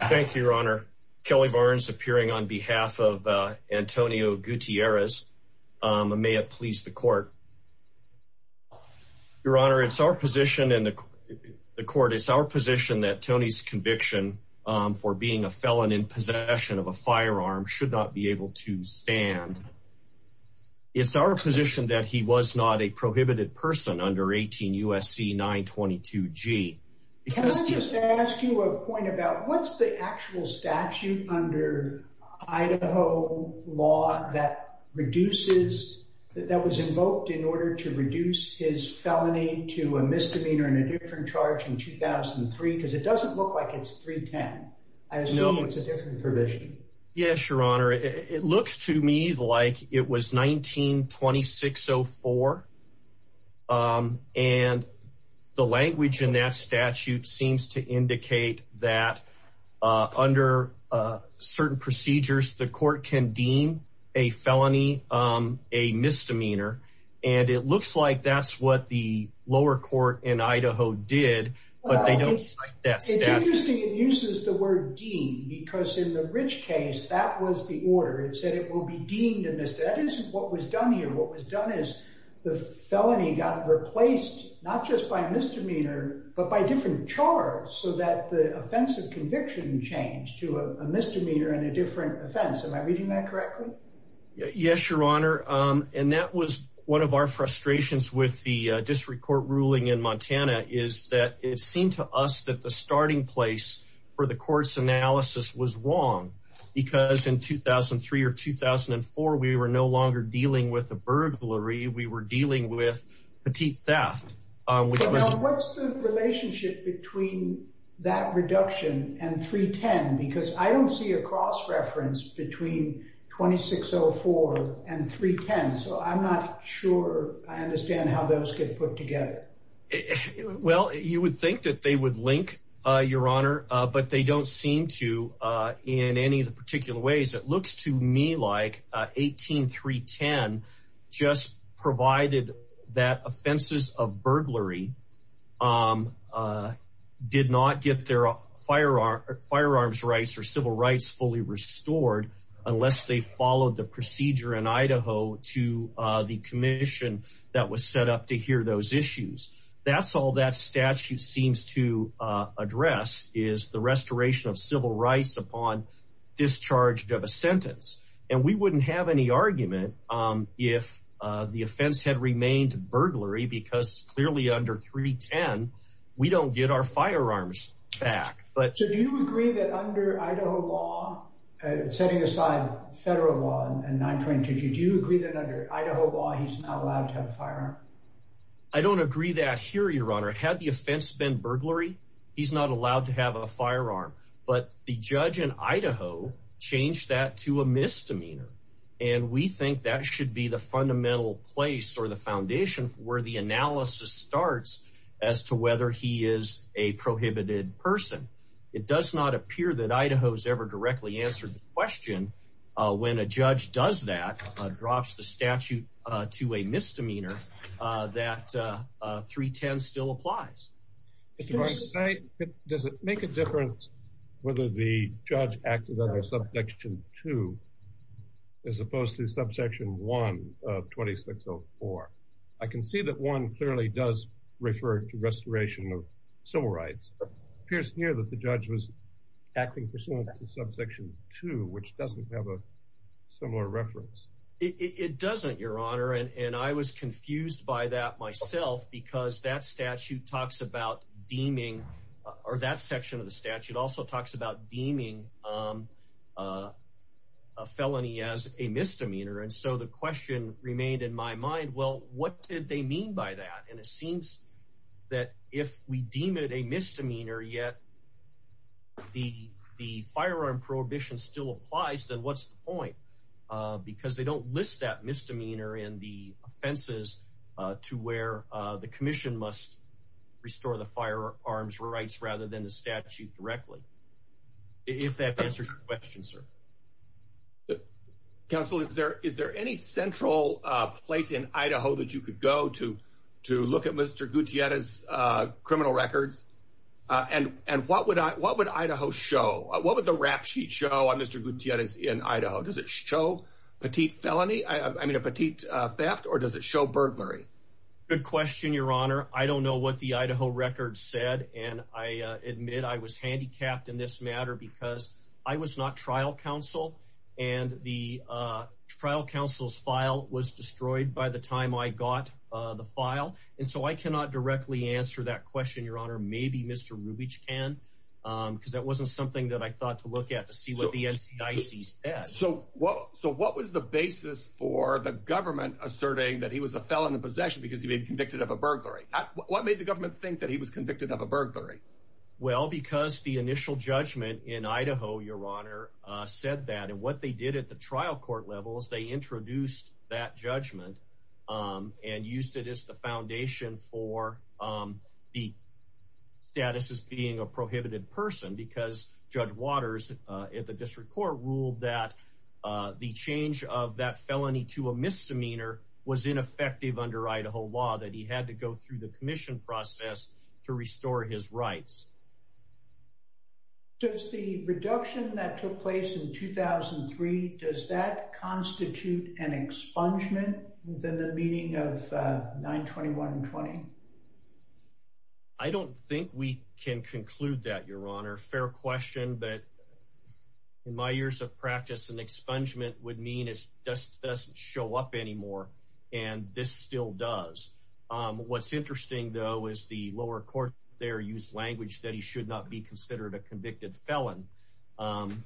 Thank you, your honor. Kelly Barnes appearing on behalf of Antonio Gutierrez. May it please the court. Your honor, it's our position in the court. It's our position that Tony's conviction for being a felon in possession of a firearm should not be able to stand. It's our position that he was not a prohibited person under 18 USC 922 G. Can I just ask you a point about what's the actual statute under Idaho law that reduces that was invoked in order to reduce his felony to a misdemeanor and a different charge in 2003 because it doesn't look like it's 310. I assume it's a different provision. Yes, your honor. It looks to me like it was 1926. So for and the language in that statute seems to indicate that under certain procedures, the court can deem a felony a misdemeanor. And it looks like that's what the lower court in Idaho did. But they don't like that. It's interesting. It uses the word Dean because in the rich case, that was the order. It said it will be deemed in this. That is what was done here. What was done is the felony got replaced not just by misdemeanor, but by different charge so that the offensive conviction changed to a misdemeanor and a different offense. Am I reading that correctly? Yes, your honor. And that was one of our frustrations with the district court ruling in Montana is that it seemed to us that the starting place for the course analysis was wrong because in 2003 or 2004, we were no longer dealing with a burglary. We were dealing with petite theft. What's the relationship between that reduction and 310? Because I don't see a cross reference between 2604 and 310. So I'm not sure I understand how those get put together. Well, you would think that they would link, your honor, but they don't seem to in any of the particular ways. It looks to me like 18310 just provided that offenses of burglary did not get their firearms rights or civil rights fully restored unless they followed the procedure in Idaho to the commission that was set up to hear those issues. That's all that statute seems to address is the restoration of civil rights upon discharge of a sentence. And we wouldn't have any argument if the offense had remained burglary because clearly under 310, we don't get our firearms back. So do you agree that under Idaho law, setting aside federal law and 922, do you agree that under Idaho law, he's not allowed to have a firearm? I don't agree that here, your honor. Had the offense been burglary, he's not allowed to have a firearm, but the judge in Idaho changed that to a misdemeanor. And we think that should be the fundamental place or the foundation where the analysis starts as to whether he is a prohibited person. It does not appear that Idaho's ever directly answered the question when a judge does that, drops the statute to a misdemeanor that 310 still applies. Does it make a difference whether the judge acted under subsection 2 as opposed to subsection 1 of 2604? I can see that clearly does refer to restoration of civil rights. It appears here that the judge was acting pursuant to subsection 2, which doesn't have a similar reference. It doesn't, your honor. And I was confused by that myself because that statute talks about deeming or that section of the statute also talks about deeming a felony as a misdemeanor. And so the question remained in my mind, well, what did they mean by that? And it seems that if we deem it a misdemeanor yet, the firearm prohibition still applies, then what's the point? Because they don't list that misdemeanor in the offenses to where the commission must restore the firearms rights rather than the statute directly. If that answers your question, sir. But counsel, is there any central place in Idaho that you could go to look at Mr. Gutierrez's criminal records? And what would Idaho show? What would the rap sheet show on Mr. Gutierrez in Idaho? Does it show petite felony? I mean, a petite theft, or does it show burglary? Good question, your honor. I don't know what the Idaho record said, and I admit I was handicapped in this matter because I was not trial counsel, and the trial counsel's file was destroyed by the time I got the file. And so I cannot directly answer that question, your honor. Maybe Mr. Rubich can, because that wasn't something that I thought to look at to see what the NCIC said. So what was the basis for the government asserting that he was a felon in possession because he'd been convicted of a burglary? What made the government think that he was convicted of a burglary? Well, because the initial judgment in Idaho, your honor, said that. And what they did at the trial court level is they introduced that judgment and used it as the foundation for the status as being a prohibited person because Judge Waters at the district court ruled that the change of that felony to a misdemeanor was ineffective under Idaho law, that he had to go through the commission process to restore his rights. Does the reduction that took place in 2003, does that constitute an expungement within the meaning of 92120? I don't think we can conclude that, your honor. Fair question, but in my years of practice, an expungement would mean it doesn't show up anymore, and this still does. What's interesting, though, is the lower court there used language that he should not be considered a convicted felon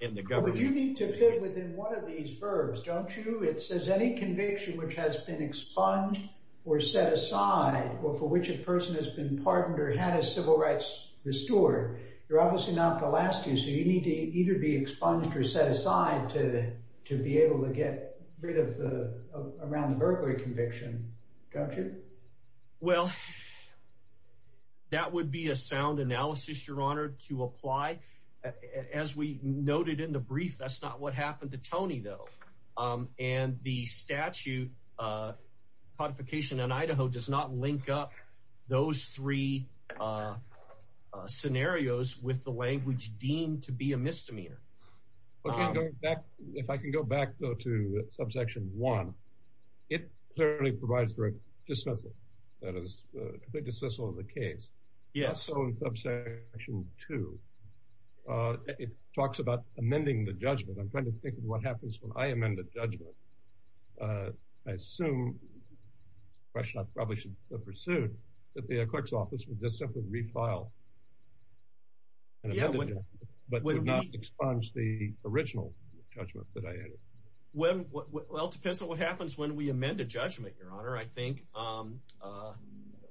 in the government. But you need to fit within one of these verbs, don't you? It says any conviction which has been expunged or set aside or for which a person has been pardoned or had his civil rights restored, you're obviously not the last two, so you need to either be expunged or set aside to be able to get rid of the around the burglary conviction, don't you? Well, that would be a sound analysis, your honor, to apply. As we noted in the brief, that's not what happened to Tony, though. And the statute codification in Idaho does not link up those three scenarios with the language deemed to be a misdemeanor. Okay, going back, if I can go back, though, to subsection one, it clearly provides for a dismissal. That is a dismissal of the case. Yes. So in subsection two, it talks about amending the judgment. I'm trying to think of what happens when I amend a judgment. I assume, a question I probably should pursue, that the clerk's office would just simply refile but would not expunge the original judgment that I added. Well, it depends on what happens when we amend a judgment, your honor. I think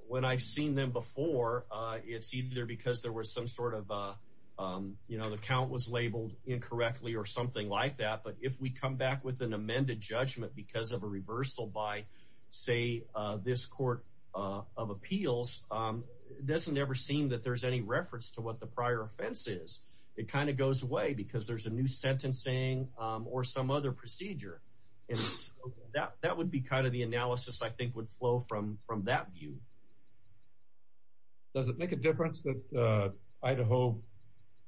when I've seen them before, it's either because there was some sort of, you know, the count was labeled incorrectly or something like that. But if we back with an amended judgment because of a reversal by, say, this court of appeals, it doesn't ever seem that there's any reference to what the prior offense is. It kind of goes away because there's a new sentencing or some other procedure. That would be kind of the analysis I think would flow from that view. Does it make a difference that Idaho,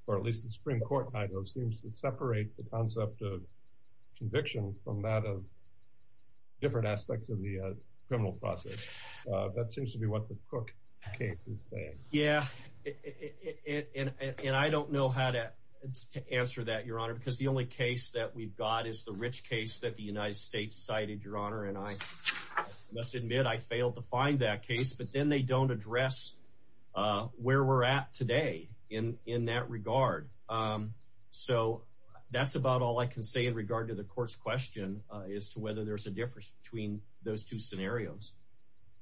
or at least the Supreme Court in Idaho, separate the concept of conviction from that of different aspects of the criminal process? That seems to be what the Cook case is saying. Yeah. And I don't know how to answer that, your honor, because the only case that we've got is the Rich case that the United States cited, your honor. And I must admit, I failed to find that case. But then they don't address where we're at today in that regard. So that's about all I can say in regard to the court's question as to whether there's a difference between those two scenarios.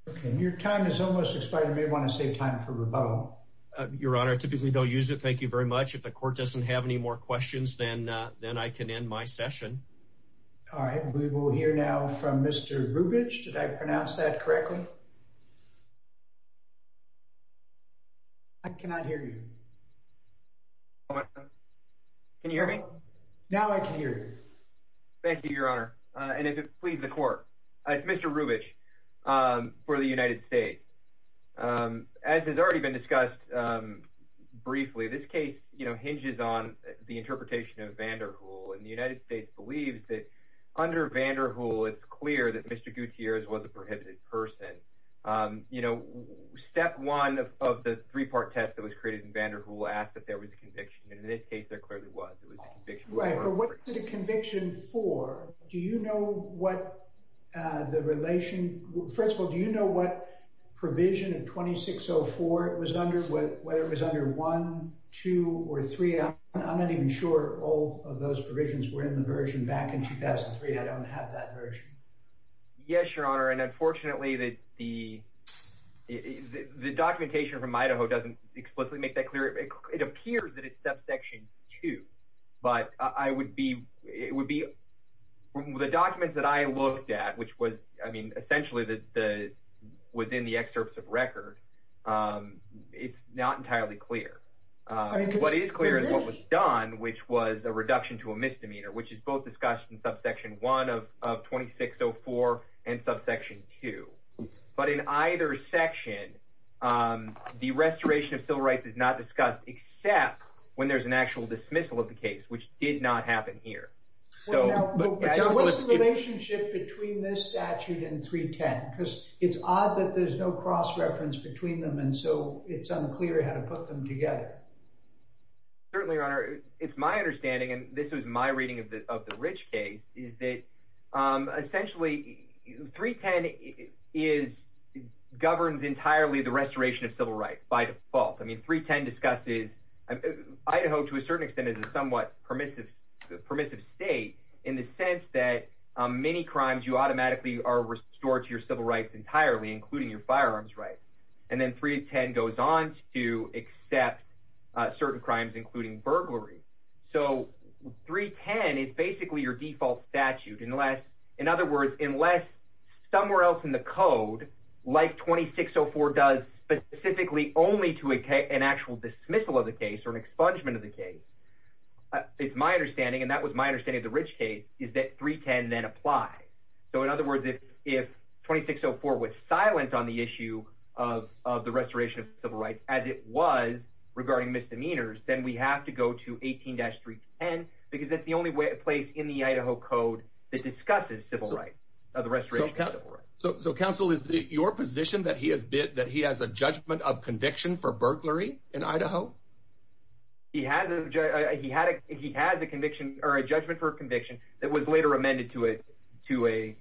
Okay. Your time is almost expired. You may want to save time for rebuttal. Your honor, I typically don't use it. Thank you very much. If the court doesn't have any more questions, then I can end my session. All right. We will hear now from Mr. Rubich. Did I pronounce that correctly? I cannot hear you. Can you hear me? Now I can hear you. Thank you, your honor. And if it pleases the court, it's Mr. Rubich for the United States. As has already been discussed briefly, this case hinges on the interpretation of Vanderhoel. And the United States believes that under Vanderhoel, it's clear that Mr. Gutierrez was a prohibited person. You know, step one of the three-part test that was created in Vanderhoel asked that there was a conviction. And in this case, there clearly was. It was a conviction. Right. But what was the conviction for? Do you know what the relation... First of all, do you know what provision of 2604 it was under, whether it was under 1, 2, or 3? I'm not even sure all of those provisions were in the version back in 2003. I don't have that version. Yes, your honor. And unfortunately, the documentation from Idaho doesn't explicitly make that clear. It appears that it's subsection 2. But it would be... The documents that I looked at, which was, I mean, essentially within the excerpts of record, it's not entirely clear. What is clear is what was done, which was a reduction to a misdemeanor, which is both discussed in subsection 1 of 2604 and subsection 2. But in either section, the restoration of civil rights is not discussed, except when there's an actual dismissal of the case, which did not happen here. What's the relationship between this statute and 310? Because it's odd that there's no cross-reference between them, and so it's unclear how to put them together. Certainly, your honor. It's my understanding, and this was my reading of the Rich case, is that essentially 310 governs entirely the restoration of civil rights by default. I mean, 310 discusses... Idaho, to a certain extent, is a somewhat permissive state in the sense that many crimes, you automatically are restored to your civil rights entirely, including your firearms rights. And then 310 goes on to accept certain crimes, including burglary. So 310 is basically your default statute. In other words, unless somewhere else in the code, like 2604 does specifically only to an actual dismissal of the case or an expungement of the case, it's my understanding, and that was my understanding of the Rich case, is that 310 then applies. So in other words, if 2604 was silent on the issue of the restoration of civil rights as it was regarding misdemeanors, then we have to go to 18-310, because that's the only place in the Idaho code that discusses civil rights, the restoration of civil rights. So counsel, is it your position that he has a judgment of conviction for burglary in Idaho? He has a judgment for conviction that was later amended to a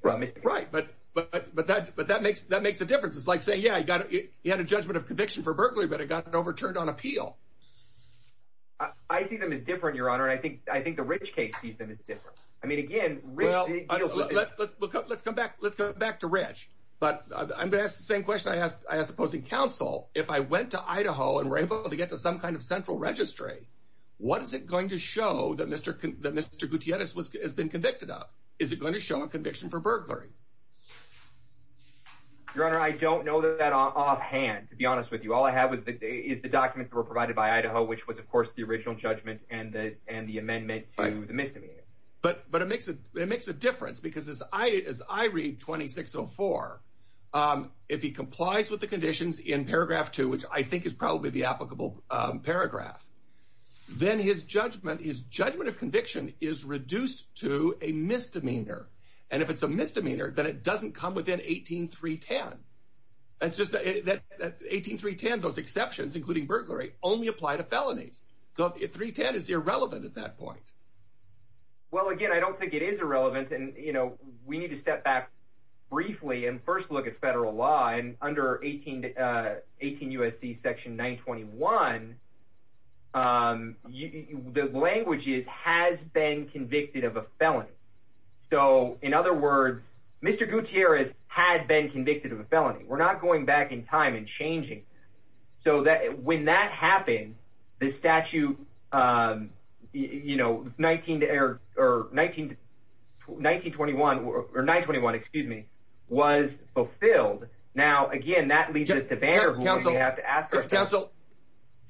misdemeanor. Right, but that makes the difference. It's like saying, yeah, he had a judgment of conviction for burglary, but it got overturned on appeal. I see them as different, Your Honor, and I think the Rich case sees them as different. I mean, again, Rich... Well, let's come back to Rich. But I'm going to ask the same question I asked the opposing counsel. If I went to Idaho and were able to get to some kind of central registry, what is it going to show that Mr. Gutierrez has been convicted of? Is it going to show a conviction for burglary? Your Honor, I don't know that offhand, to be honest with you. All I have is the documents that were provided by Idaho, which was, of course, the original judgment and the amendment to the misdemeanor. But it makes a difference, because as I read 2604, if he complies with the conditions in paragraph two, which I think is probably the applicable paragraph, then his judgment of conviction is reduced to a misdemeanor. And if it's a misdemeanor, then it doesn't come within 18310. That's just that 18310, those exceptions, including burglary, only apply to felonies. So 310 is irrelevant at that point. Well, again, I don't think it is irrelevant. And, you know, we need to step back briefly and first look at federal law. And under 18 U.S.C. section 921, the language is has been convicted of a felony. So, in other words, Mr. Gutierrez had been convicted of a felony. We're not going back in time and changing. So that when that happened, the statute, you know, 19 or 19, 1921 or 921, excuse me, was fulfilled. Now, again, that leads to the banner council. You have to ask for counsel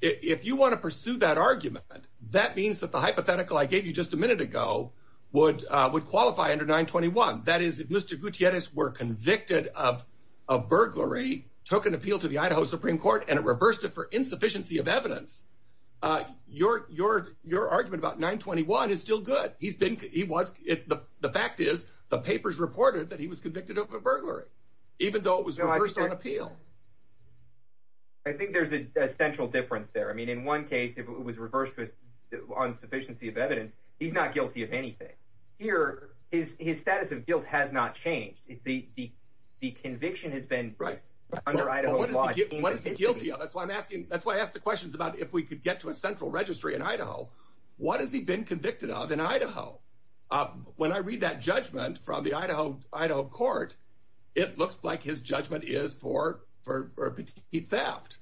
if you want to pursue that argument. That means that the hypothetical I gave you just a minute ago would would qualify under 921. That is, if Mr. Gutierrez were convicted of a burglary, took an appeal to the Idaho Supreme Court and reversed it for insufficiency of evidence, your your your argument about 921 is still good. He's been he was. The fact is, the papers reported that he was convicted of a burglary, even though it was reversed on appeal. I think there's a central difference there. I mean, in one case, it was reversed on sufficiency of evidence. He's not guilty of anything here. His status of guilt has not changed. It's the the conviction has been right under Idaho. What is he guilty of? That's why I'm asking. That's why I asked the questions about if we could get to a central registry in Idaho. What has he been convicted of in Idaho? When I read that judgment from the Idaho Idaho court, it looks like his judgment is for for theft.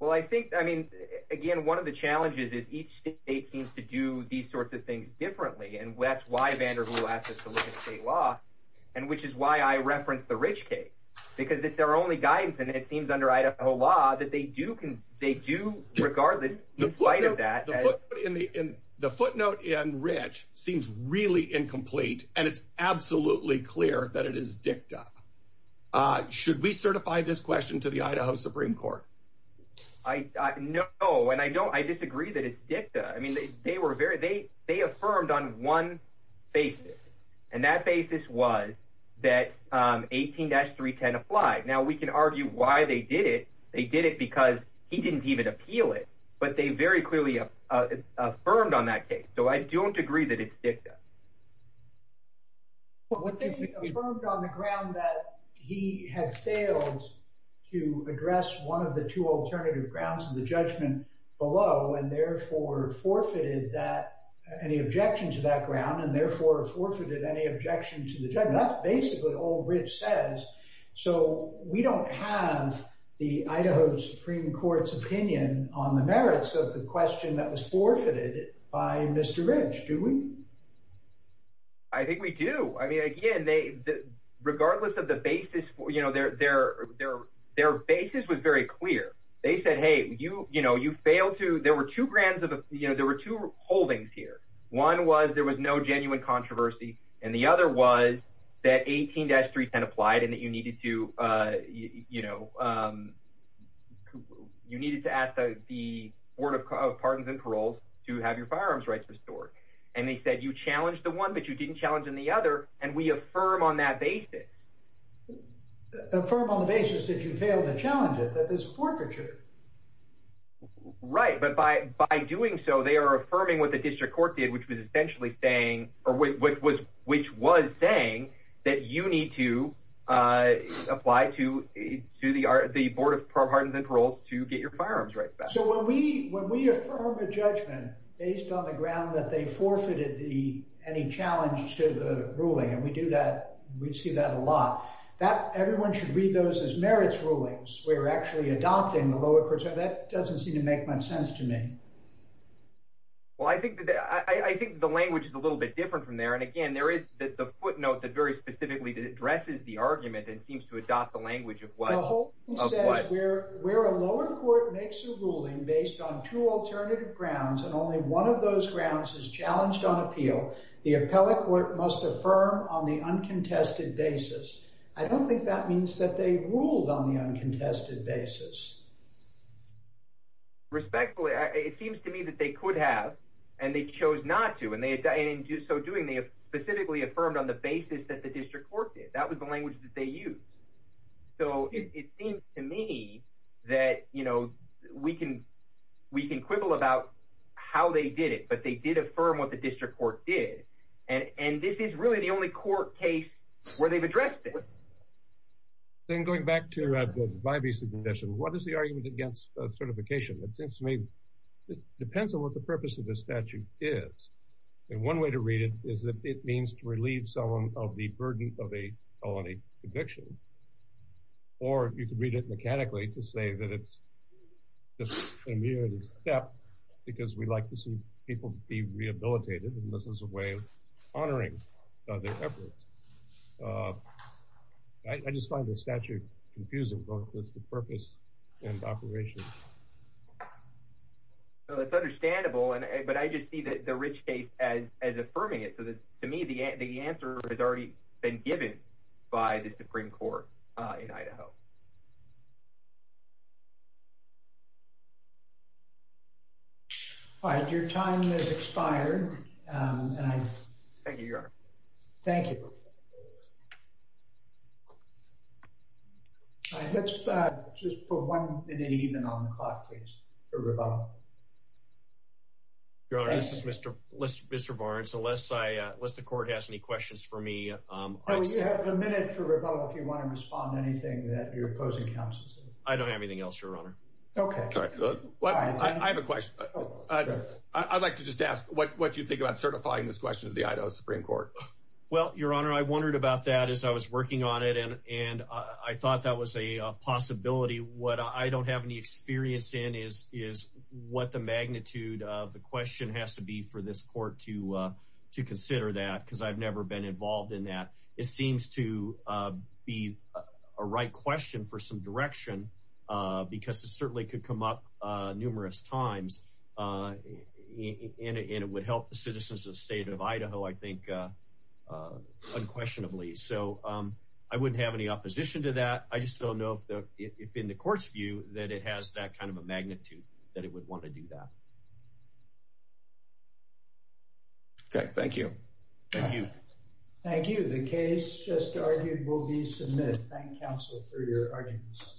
Well, I think, I mean, again, one of the challenges is each state seems to do these sorts of things differently. And that's why Vanderbilt asked us to look at state law, and which is why I referenced the Rich case, because it's their only guidance. And it seems under Idaho law that they do can, they do, regardless of that. The footnote in Rich seems really incomplete, and it's absolutely clear that it is dicta. Should we certify this question to the Idaho Supreme Court? I know. And I don't I disagree that it's dicta. I mean, they were very they they affirmed on one basis. And that basis was that 18-310 applied. Now we can argue why they did it. They did it because he didn't even appeal it. But they very clearly affirmed on that case. So I don't agree that it's dicta. Well, what they affirmed on the ground that he had failed to address one of the two alternative grounds of the judgment below, and therefore forfeited that any objection to that ground, and therefore forfeited any objection to the judgment. That's basically all Rich says. So we don't have the Idaho Supreme Court's opinion on the merits of the question that was forfeited by Mr. Rich, do we? I think we do. I mean, again, they, regardless of the basis, you know, their basis was very clear. They said, hey, you, you know, you failed to, there were two grounds of, you know, there were two holdings here. One was there was no genuine controversy. And the other was that 18-310 applied and that you needed to, you know, you needed to ask the Board of Pardons and Paroles to have your firearms rights restored. And they said, you challenged the one that you didn't challenge in the other, and we affirm on that basis. Affirm on the basis that you failed to challenge it, that there's a forfeiture. Right. But by, by doing so, they are affirming what the district court did, which was essentially saying, or which was, which was saying that you need to apply to, to the, the Board of Pardons and Paroles to get your firearms rights back. So when we, when we affirm a judgment based on the ground that they forfeited the, any challenge to the ruling, and we do that, we see that a lot, that everyone should read those as merits rulings. We're actually adopting the lower court. So that doesn't seem to make much sense to me. Well, I think that, I think the language is a little bit different from there. And again, there is the footnote that very specifically addresses the argument and seems to adopt the language of what. The whole thing says where a lower court makes a ruling based on two alternative grounds, and only one of those grounds is challenged on appeal, the appellate court must affirm on the uncontested basis. I don't think that means that they ruled on the uncontested basis. Respectfully, it seems to me that they could have, and they chose not to, and they, and in so doing, they have specifically affirmed on the basis that the district court did. That was the language that they used. So it seems to me that, you know, we can, we can quibble about how they did it, but they did affirm what the district court did. And, and this is really the only court case where they've addressed it. Then going back to the bivisa condition, what is the argument against certification? It seems to me it depends on what the purpose of the statute is. And one way to read it is that it means to relieve someone of the burden of a felony conviction, or you could read it mechanically to say that it's just a mere step because we'd like to see people be rehabilitated. And this is a way honoring their efforts. I just find the statute confusing both with the purpose and the operation. So it's understandable, but I just see the Rich case as affirming it. So to me, the answer has already been given by the Supreme Court in Idaho. All right, your time has expired. Thank you, Your Honor. Thank you. All right, let's just put one minute even on the clock, please, for Rebella. Your Honor, this is Mr. Barnes. Unless I, unless the court has any questions for me. We have a minute for Rebella if you want to respond to anything that you're opposing. I don't have anything else, Your Honor. Okay, I have a question. I'd like to just ask what you think about certifying this question to the Idaho Supreme Court? Well, Your Honor, I wondered about that as I was working on it, and I thought that was a possibility. What I don't have any experience in is what the magnitude of the question has to be for this court to consider that because I've never been involved in that. It seems to be a right question for some direction because it certainly could come up numerous times, and it would help the citizens of the state of Idaho, I think, unquestionably. So I wouldn't have any opposition to that. I just don't know if in the court's view that it has that kind of a magnitude that it would want to do that. Okay, thank you. Thank you. Thank you. The case just argued will be submitted. Thank you, counsel, for your arguments.